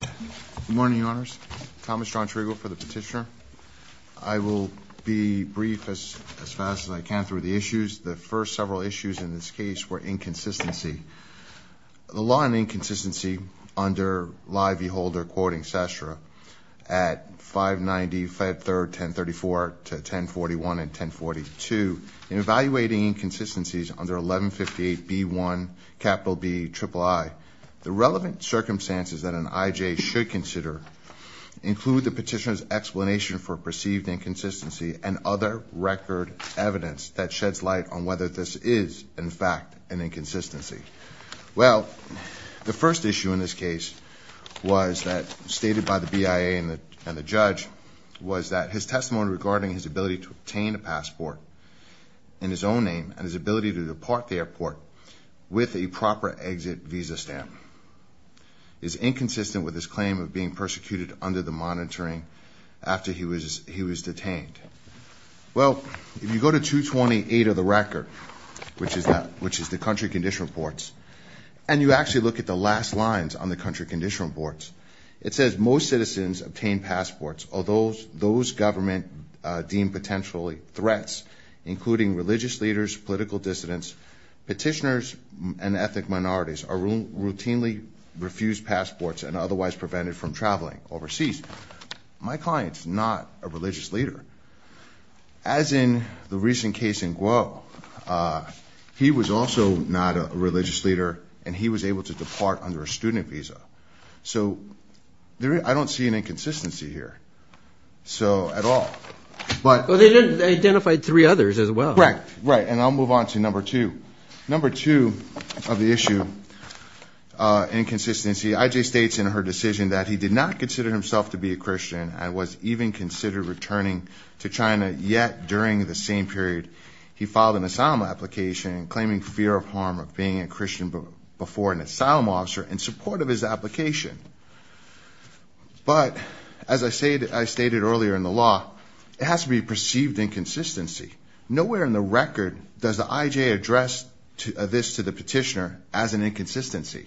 Good morning, Your Honors. Thomas John Triegel for the petitioner. I will be brief as fast as I can through the issues. The first several issues in this case were inconsistency. The law on inconsistency under Lye v. Holder quoting Sastra at 590 Fed 3rd 1034 to 1041 and 1042 in evaluating inconsistencies under 1158 B1 BII, the relevant circumstances that an IJ should consider include the petitioner's explanation for perceived inconsistency and other record evidence that sheds light on whether this is in fact an inconsistency. Well the first issue in this case was that stated by the BIA and the judge was that his testimony regarding his ability to obtain a passport in his own name and his ability to depart the airport with a proper exit visa stamp is inconsistent with his claim of being persecuted under the monitoring after he was he was detained. Well if you go to 228 of the record which is that which is the country condition reports and you actually look at the last lines on the country condition reports it says most citizens obtain passports although those government deemed potentially threats including religious leaders, political dissidents, petitioners, and ethnic minorities are routinely refused passports and otherwise prevented from traveling overseas. My client's not a religious leader. As in the recent case in Guo, he was also not a religious leader and he was able to depart under a student visa. So I don't see an inconsistency at all. They identified three others as well. Right and I'll move on to number two. Number two of the issue, inconsistency. IJ states in her decision that he did not consider himself to be a Christian and was even considered returning to China yet during the same period he filed an asylum application claiming fear of harm of being a Christian before an asylum officer in support of his application. But as I stated earlier in the law, it has to be perceived inconsistency. Nowhere in the record does the IJ address this to the petitioner as an inconsistency.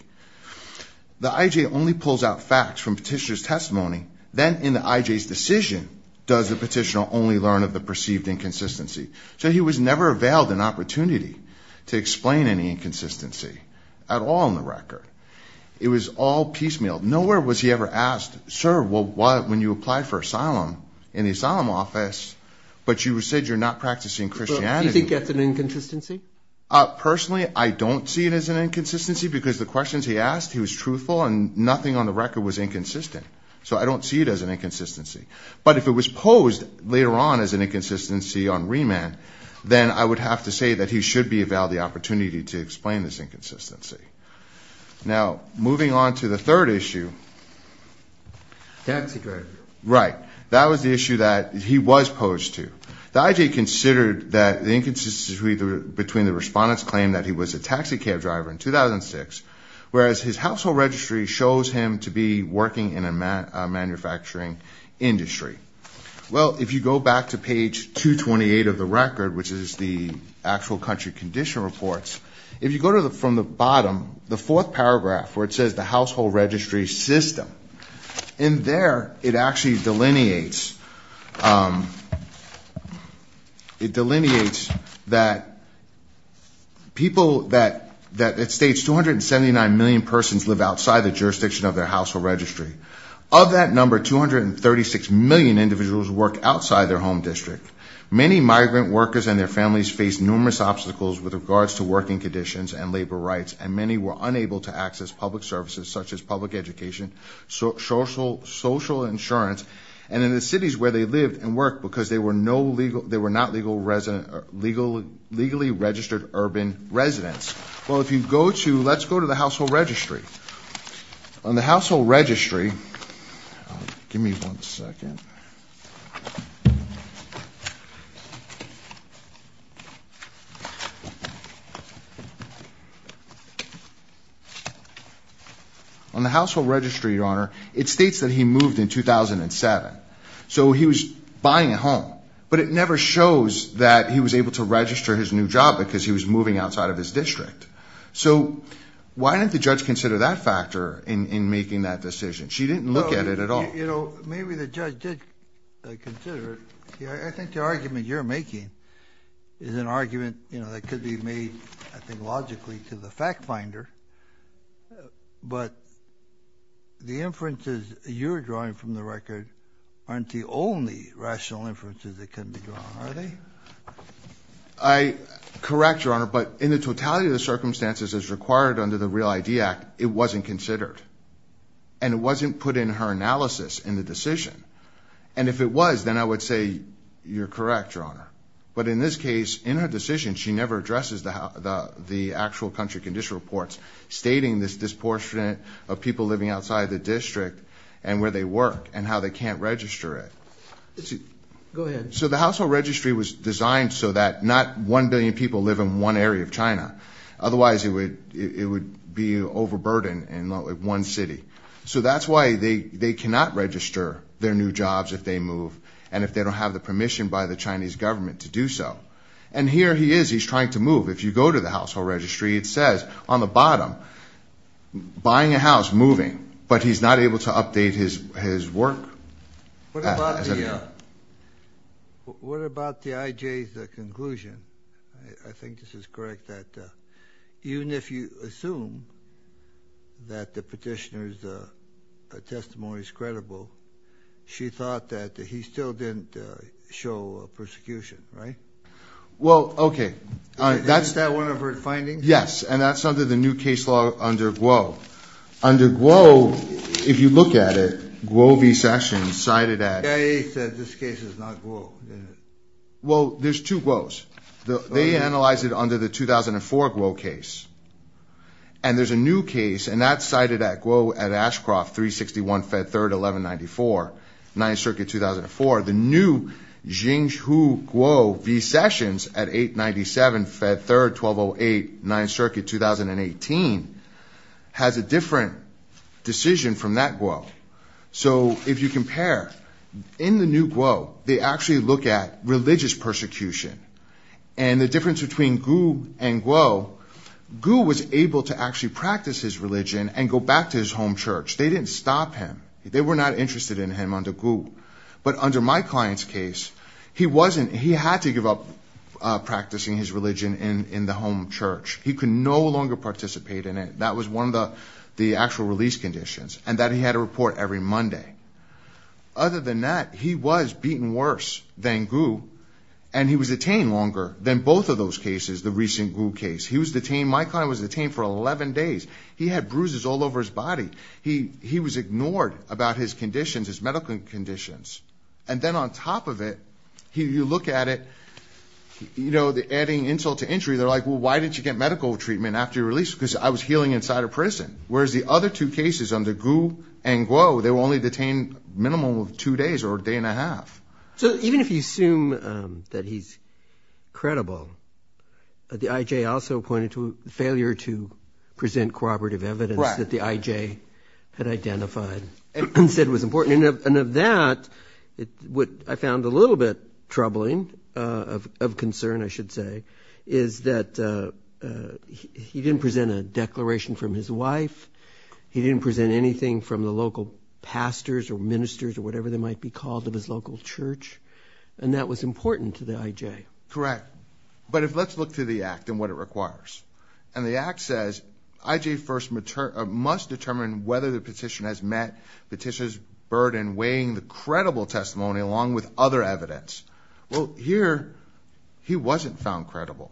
The IJ only pulls out facts from petitioner's testimony then in the IJ's decision does the petitioner only learn of the perceived inconsistency. So he was never availed an opportunity to explain any It was all piecemeal. Nowhere was he ever asked, sir, well what when you apply for asylum in the asylum office but you said you're not practicing Christianity. Do you think that's an inconsistency? Personally I don't see it as an inconsistency because the questions he asked, he was truthful and nothing on the record was inconsistent. So I don't see it as an inconsistency. But if it was posed later on as an inconsistency on remand, then I would have to say that he should be availed the Moving on to the third issue. Taxi driver. Right. That was the issue that he was posed to. The IJ considered that the inconsistency between the respondents claimed that he was a taxi cab driver in 2006, whereas his household registry shows him to be working in a manufacturing industry. Well if you go back to page 228 of the record, which is the actual country condition reports, if you go to the from the bottom, the fourth paragraph where it says the household registry system, in there it actually delineates, it delineates that people that, that it states 279 million persons live outside the jurisdiction of their household registry. Of that number, 236 million individuals work outside their home district. Many migrant workers and their families face numerous obstacles with regards to working conditions and labor rights, and many were unable to access public services such as public education, social insurance, and in the cities where they lived and worked, because they were no legal, they were not legally registered urban residents. Well if you go to, let's go to the household registry. On the household registry, give me one second. On the household registry, your honor, it states that he moved in 2007, so he was buying a home, but it never shows that he was able to register his new job because he was moving outside of his district. So why didn't the judge consider that factor in making that decision? She didn't look at it at all. You know, maybe the judge did consider it. I think the argument you're making is an argument, you know, that could be made, I think, logically to the fact finder, but the inferences you're drawing from the record aren't the only rational inferences that can be drawn, are they? I correct, your honor, but in the totality of the circumstances as required under the Real ID Act, it wasn't considered, and it wasn't put in her analysis in the decision, and if it was, then I would say you're correct, your honor, but in this case, in her decision, she never addresses the actual country condition reports stating this disproportionate of people living outside the district and where they work and how they can't register it. Go ahead. So the household registry was designed so that not 1 billion people live in one area of China. Otherwise, it would be overburdened in one city. So that's why they cannot register their new jobs if they move, and if they don't have the permission by the Chinese government to do so. And here he is, he's trying to move. If you go to the household registry, it says on the bottom buying a house, moving, but he's not able to update his his work. What about the IJ's conclusion? I think this is correct, that even if you assume that the show persecution, right? Well, okay. That's that one of her findings? Yes, and that's under the new case law under Guo. Under Guo, if you look at it, Guo v. Sessions cited at... The IA said this case is not Guo. Well, there's two Guo's. They analyzed it under the 2004 Guo case, and there's a new case, and that's cited at Guo at Guo v. Sessions at 897 Fed 3rd 1208 9th Circuit 2018 has a different decision from that Guo. So if you compare, in the new Guo, they actually look at religious persecution, and the difference between Guo and Guo, Guo was able to actually practice his religion and go back to his home church. They didn't stop him. They were not interested in him under Guo, but under my client's case, he wasn't. He had to give up practicing his religion in the home church. He could no longer participate in it. That was one of the the actual release conditions, and that he had a report every Monday. Other than that, he was beaten worse than Guo, and he was detained longer than both of those cases, the recent Guo case. He was detained, my client was detained for 11 days. He had bruises all over his body. He was ignored about his conditions, his medical conditions, and then on top of it, you look at it, you know, the adding insult to injury, they're like, well, why did you get medical treatment after your release? Because I was healing inside a prison, whereas the other two cases under Guo and Guo, they were only detained minimum of two days or a day and a half. So even if you assume that he's credible, the IJ also pointed to failure to present corroborative evidence that the And said it was important. And of that, what I found a little bit troubling, of concern, I should say, is that he didn't present a declaration from his wife. He didn't present anything from the local pastors or ministers or whatever they might be called of his local church, and that was important to the IJ. Correct, but if let's look through the Act and what it requires, and the Act says IJ first must determine whether the petitioner has met petitioner's burden weighing the credible testimony along with other evidence. Well, here, he wasn't found credible.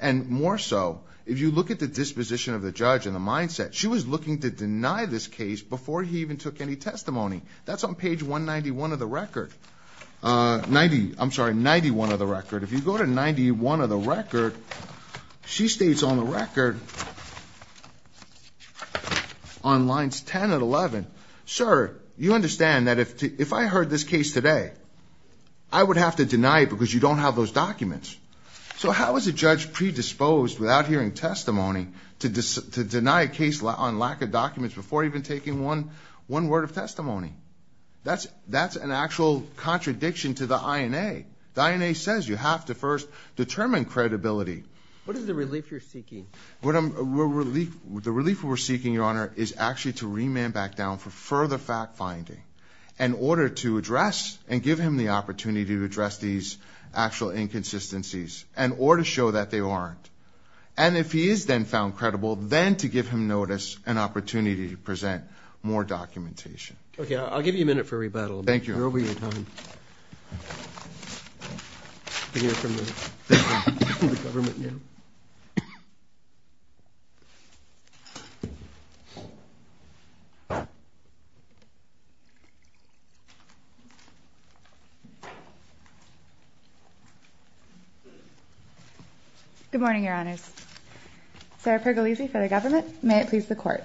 And more so, if you look at the disposition of the judge and the mindset, she was looking to deny this case before he even took any testimony. That's on page 191 of the record. 90, I'm sorry, 91 of the record. If you go to 91 of the record, on lines 10 and 11, sir, you understand that if I heard this case today, I would have to deny it because you don't have those documents. So how is a judge predisposed without hearing testimony to deny a case on lack of documents before even taking one word of testimony? That's an actual contradiction to the INA. The INA says you have to first determine credibility. What is the relief we're seeking, Your Honor, is actually to remand back down for further fact-finding in order to address and give him the opportunity to address these actual inconsistencies and or to show that they aren't. And if he is then found credible, then to give him notice and opportunity to present more documentation. Okay, I'll give you a minute for rebuttal. Thank you. We're back. Good morning, Your Honors. Sarah Pergolizzi for the government. May it please the court.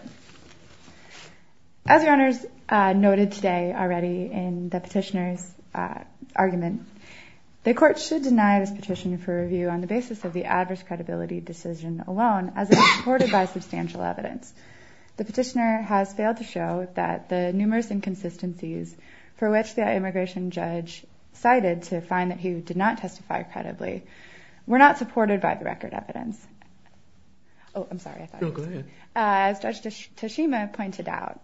As Your Honors noted today already in the petitioner's argument, the court should deny this petition for review on the basis of the substantial evidence. The petitioner has failed to show that the numerous inconsistencies for which the immigration judge cited to find that he did not testify credibly were not supported by the record evidence. Oh, I'm sorry. Go ahead. As Judge Toshima pointed out,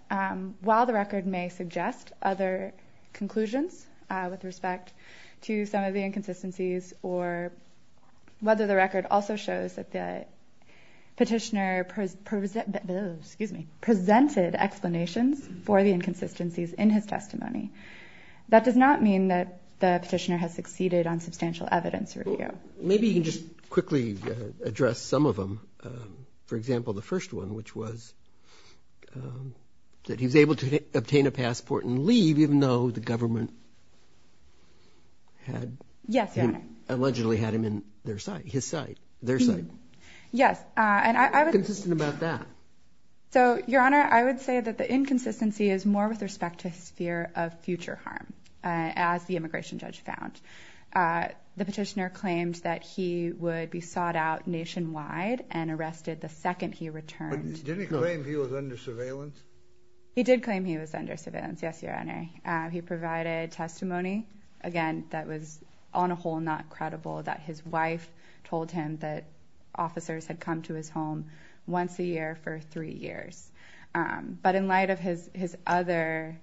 while the record may suggest other conclusions with respect to some of the inconsistencies or whether the record also shows that the petitioner presented explanations for the inconsistencies in his testimony, that does not mean that the petitioner has succeeded on substantial evidence review. Maybe you can just quickly address some of them. For example, the first one which was that he was able to obtain a passport and leave even though the government had allegedly had him in their sight. Yes. And I was just about that. So, Your Honor, I would say that the inconsistency is more with respect to his fear of future harm. As the immigration judge found, the petitioner claimed that he would be sought out nationwide and arrested the second he returned. Didn't he claim he was under surveillance? He did claim he was under on a whole, not credible, that his wife told him that officers had come to his home once a year for three years. But in light of his other...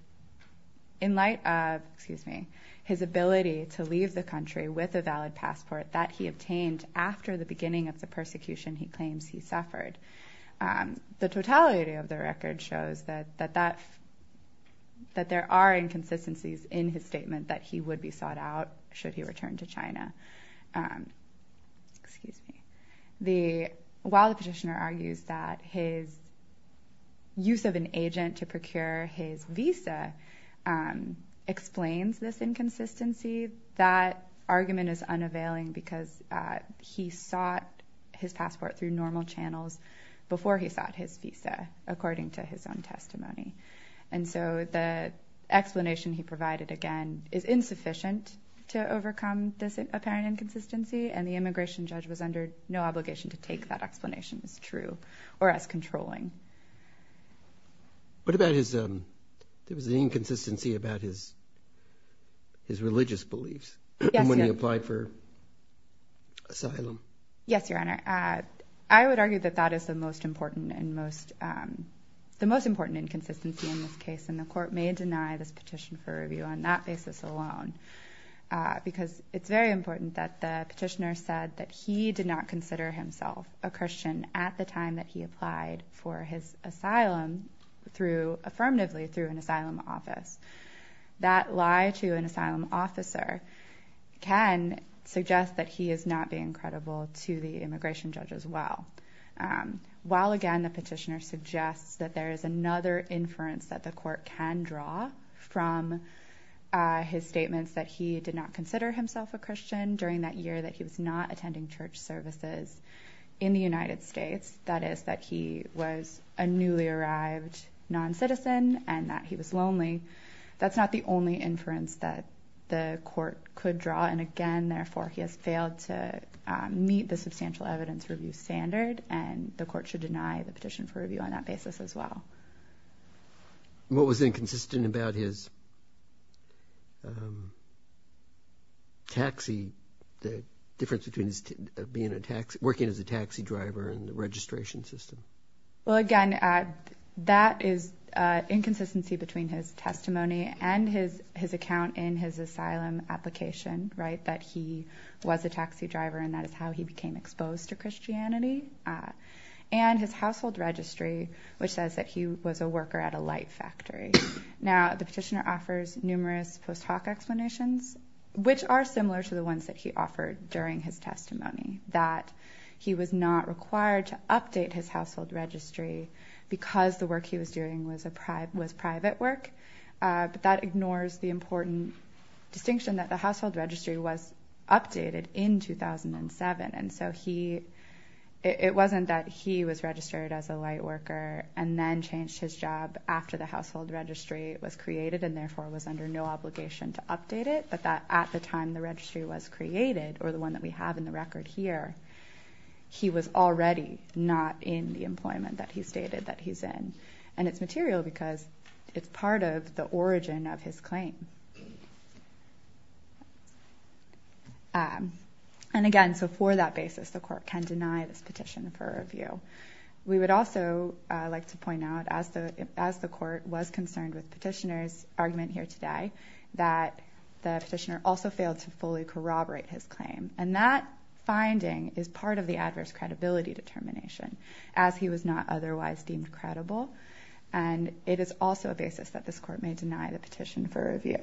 In light of, excuse me, his ability to leave the country with a valid passport that he obtained after the beginning of the persecution he claims he suffered, the totality of the record shows that there are inconsistencies in his statement that he would be sought out should he return to China. Excuse me. While the petitioner argues that his use of an agent to procure his visa explains this inconsistency, that argument is unavailing because he sought his passport through normal channels before he sought his visa according to his own testimony. And so the explanation he provided, again, is insufficient to overcome this apparent inconsistency, and the immigration judge was under no obligation to take that explanation as true or as controlling. What about his... There was an inconsistency about his religious beliefs when he applied for asylum. Yes, Your Honor. I would argue that that is the most important and most... The most important inconsistency in this case, and the court may deny this petition for review on that basis alone. Because it's very important that the petitioner said that he did not consider himself a Christian at the time that he applied for his asylum through... Affirmatively through an asylum office. That lie to an asylum officer can suggest that he is not being credible to the immigration judge as well. While, again, the petitioner suggests that there is another inference that the court can draw from his statements that he did not consider himself a Christian during that year, that he was not attending church services in the United States, that is, that he was a newly arrived non citizen and that he was lonely, that's not the only inference that the court could draw. And again, therefore, he has failed to meet the substantial evidence review standard, and the court should deny the petition for review on that basis as well. What was inconsistent about his taxi, the difference between working as a taxi driver and the registration system? Well, again, that is inconsistency between his testimony and his account in his asylum application, that he was a taxi driver and that is how he became exposed to Christianity, and his household registry, which says that he was a worker at a light factory. Now, the petitioner offers numerous post hoc explanations, which are similar to the ones that he offered during his testimony, that he was not required to update his household registry because the work he was doing was private work, but that ignores the important distinction that the household registry was updated in 2007, and so it wasn't that he was registered as a light worker and then changed his job after the household registry was created, and therefore was under no obligation to update it, but that at the time the registry was created, or the one that we have in the record here, he was already not in the employment that he stated that he's in. And it's material because it's part of the origin of his claim. And again, so for that basis, the court can deny this petition for review. We would also like to point out, as the court was concerned with petitioner's argument here today, that the petitioner also failed to fully corroborate his claim, and that finding is part of the adverse credibility determination, as he was not otherwise deemed credible, and it is also a basis that this court may deny the petition for review.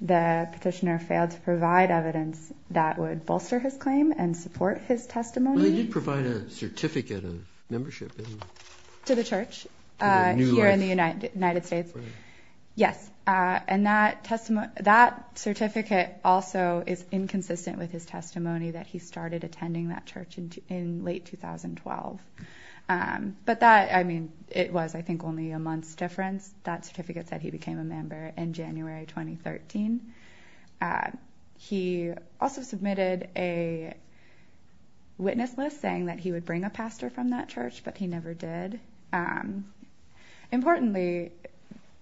The petitioner failed to provide evidence that would bolster his claim and support his testimony. Well, he did provide a certificate of membership in... To the church. To New Life. Here in the United States. Right. Yes. And that certificate also is inconsistent with his testimony that he started attending that church in late 2012. But that, I mean, it was, I think, only a month's difference, that certificate said he became a member in January 2013. He also submitted a witness list saying that he would bring a pastor from that church, but he never did. Importantly,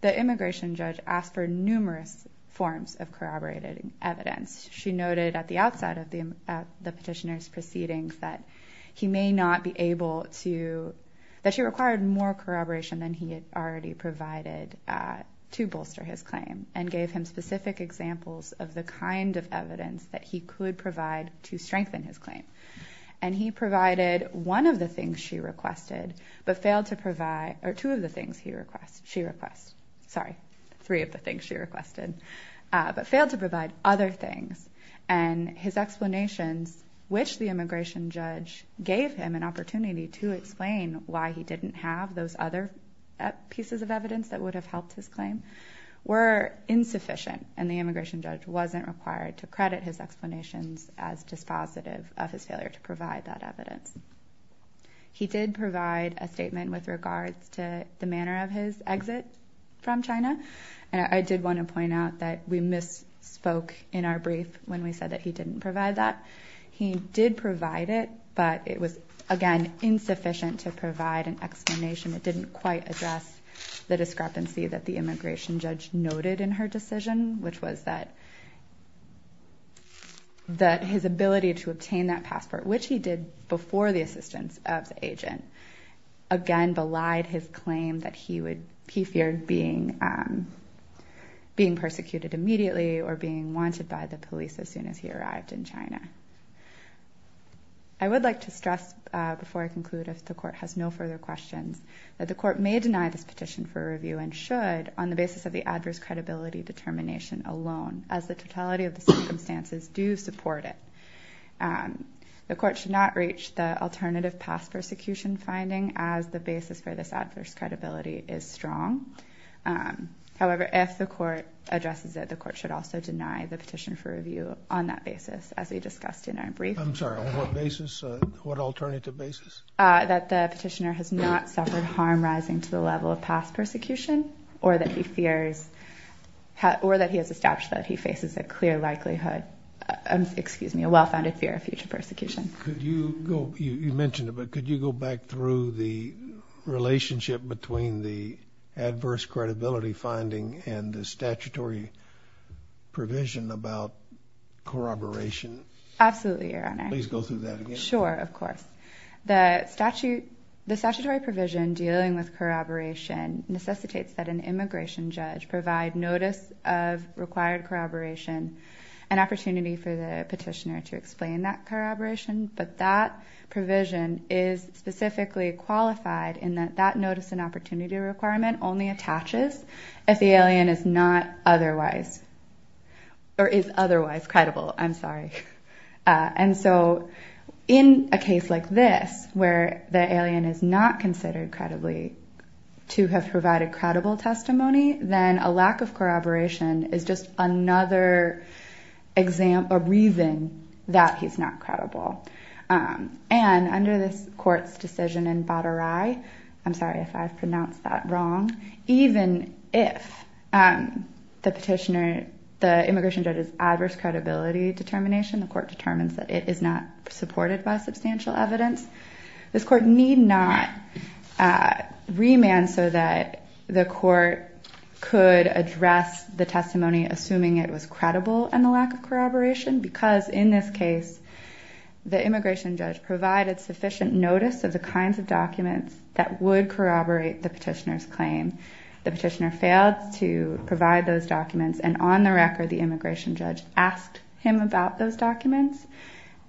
the immigration judge asked for numerous forms of corroborated evidence. She noted at the outside of the petitioner's proceedings that he may not be able to... That she required more corroboration than he had already provided to bolster his claim, and gave him specific examples of the kind of evidence that he could provide to strengthen his claim. And he provided one of the things she requested, but failed to provide... Or two of the things he requests... She requests. Sorry, three of the things she requested, but failed to provide other things. And his explanations, which the immigration judge gave him an opportunity to explain why he didn't have those other pieces of evidence that would have helped his claim, were insufficient, and the immigration judge wasn't required to credit his explanations as dispositive of his failure to provide that evidence. He did provide a statement with regards to the manner of his exit from China. And I did wanna point out that we misspoke in our brief when we said that he didn't provide that. He did provide it, but it was, again, insufficient to provide an explanation. It didn't quite address the discrepancy that the immigration judge noted in her decision, which was that his ability to obtain that passport, which he did before the assistance of the agent, again, belied his claim that he feared being persecuted immediately or being wanted by the police as soon as he was released. I would like to stress, before I conclude, if the court has no further questions, that the court may deny this petition for review and should on the basis of the adverse credibility determination alone, as the totality of the circumstances do support it. The court should not reach the alternative past persecution finding as the basis for this adverse credibility is strong. However, if the court addresses it, the court should also deny the petition for review on that basis, as we discussed in our brief. I'm sorry, on what basis? What alternative basis? That the petitioner has not suffered harm rising to the level of past persecution, or that he fears... Or that he has established that he faces a clear likelihood... Excuse me, a well-founded fear of future persecution. Could you go... You mentioned it, but could you go back through the relationship between the adverse credibility finding and the statutory provision about corroboration? Absolutely, Your Honor. Please go through that again. Sure, of course. The statutory provision dealing with corroboration necessitates that an immigration judge provide notice of required corroboration, an opportunity for the petitioner to explain that corroboration, but that provision is specifically qualified in that that notice and opportunity requirement only attaches if the alien is not otherwise... Or is otherwise credible, I'm sorry. And so in a case like this, where the alien is not considered credibly to have provided credible testimony, then a lack of corroboration is just another reason that he's not credible. And under this court's decision in Badaray... I'm sorry if I've pronounced that wrong. Even if the petitioner... The immigration judge's adverse credibility determination, the court determines that it is not supported by substantial evidence, this court need not remand so that the court could address the testimony, assuming it was credible and the lack of corroboration, because in this case, the immigration judge provided sufficient notice of the kinds of evidence that the petitioner's claim. The petitioner failed to provide those documents. And on the record, the immigration judge asked him about those documents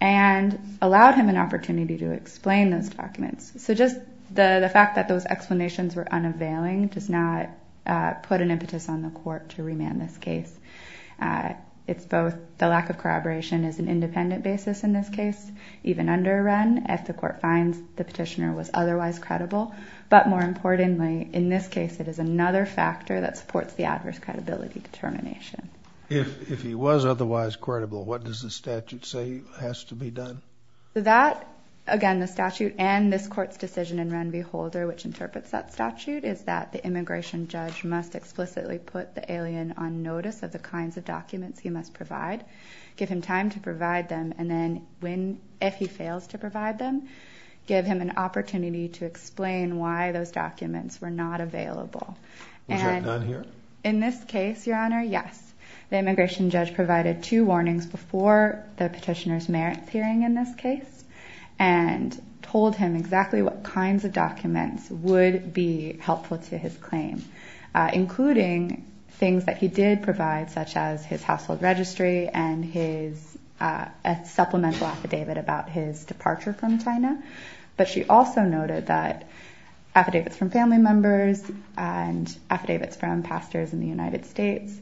and allowed him an opportunity to explain those documents. So just the fact that those explanations were unavailing does not put an impetus on the court to remand this case. It's both... The lack of corroboration is an independent basis in this case, even under Wren, if the court finds the petitioner was otherwise credible. But more importantly, in this case, it is another factor that supports the adverse credibility determination. If he was otherwise credible, what does the statute say has to be done? That, again, the statute and this court's decision in Wren v. Holder, which interprets that statute, is that the immigration judge must explicitly put the alien on notice of the kinds of documents he must provide, give him time to provide them, and then if he fails to provide them, give him an opportunity to explain why those documents were not available. Which are none here? In this case, Your Honor, yes. The immigration judge provided two warnings before the petitioner's merits hearing in this case and told him exactly what kinds of documents would be helpful to his claim, including things that he did provide, such as his household registry and his supplemental affidavit about his family. He also noted that affidavits from family members and affidavits from pastors in the United States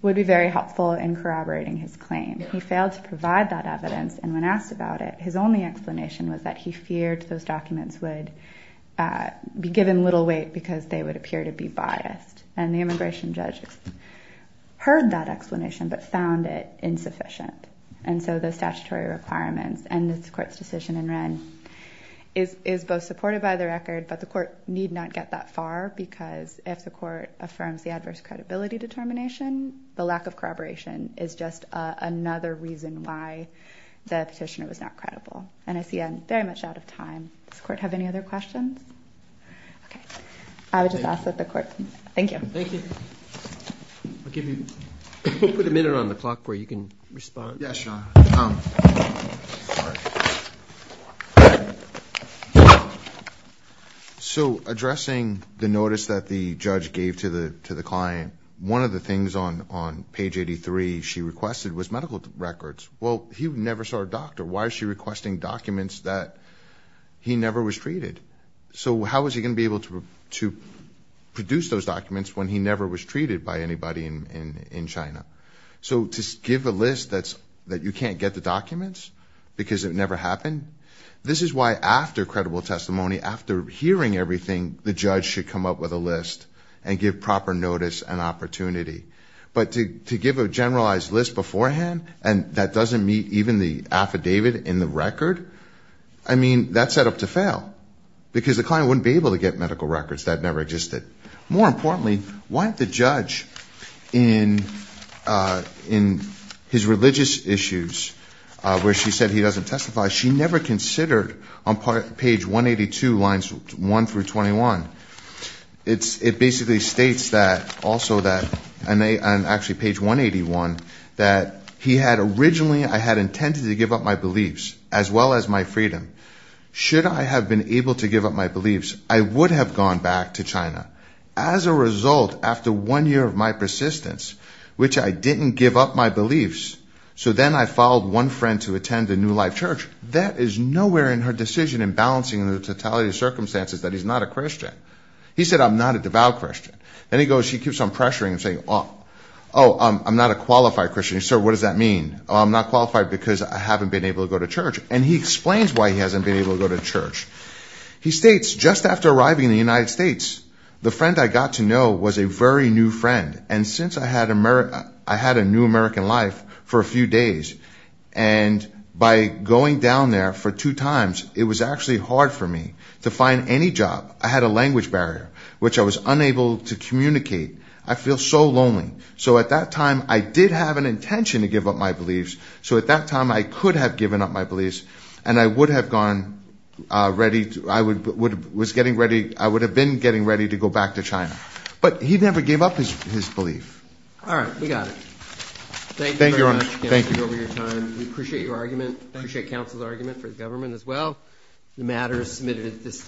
would be very helpful in corroborating his claim. He failed to provide that evidence, and when asked about it, his only explanation was that he feared those documents would be given little weight because they would appear to be biased. And the immigration judge heard that explanation but found it insufficient. And so the statutory requirements and this court's decision in Wren is both supported by the record, but the court need not get that far, because if the court affirms the adverse credibility determination, the lack of corroboration is just another reason why the petitioner was not credible. And I see I'm very much out of time. Does the court have any other questions? Okay. I would just ask that the court... Thank you. Thank you. I'll give you... We'll put a minute on the clock where you can respond. Yes, Sean. So addressing the notice that the judge gave to the client, one of the things on page 83 she requested was medical records. Well, he never saw a doctor. Why is she requesting documents that he never was treated? So how was he going to be able to produce those documents when he never was treated by you can't get the documents because it never happened? This is why after credible testimony, after hearing everything, the judge should come up with a list and give proper notice and opportunity. But to give a generalized list beforehand and that doesn't meet even the affidavit in the record, I mean that's set up to fail because the client wouldn't be able to get medical records. That never existed. More importantly, why the judge in his religious issues where she said he doesn't testify, she never considered on page 182 lines 1 through 21. It basically states that also that, and actually page 181, that he had originally... I had intended to give up my beliefs as well as my freedom. Should I have been able to give up my beliefs, I would have gone back to China. As a result, after one year of my persistence, which I didn't give up my beliefs, so then I followed one friend to attend a new life church. That is nowhere in her decision in balancing the totality of circumstances that he's not a Christian. He said I'm not a devout Christian. Then he goes, he keeps on pressuring and saying, oh I'm not a qualified Christian. So what does that mean? I'm not qualified because I haven't been able to go to church. And he explains why he hasn't been able to go to church. He states, just after arriving in the United States, the friend I got to know was a very new friend. And since I had a new American life for a few days, and by going down there for two times, it was actually hard for me to find any job. I had a language barrier, which I was unable to communicate. I feel so lonely. So at that time, I did have an intention to give up my beliefs. So at that time, I could have given up my beliefs and I would have been getting ready to go back to China. But he never gave up his belief. All right, we got it. Thank you very much, Counselor, for your time. We appreciate your argument, appreciate counsel's argument for the government as well. The matter is submitted at this time.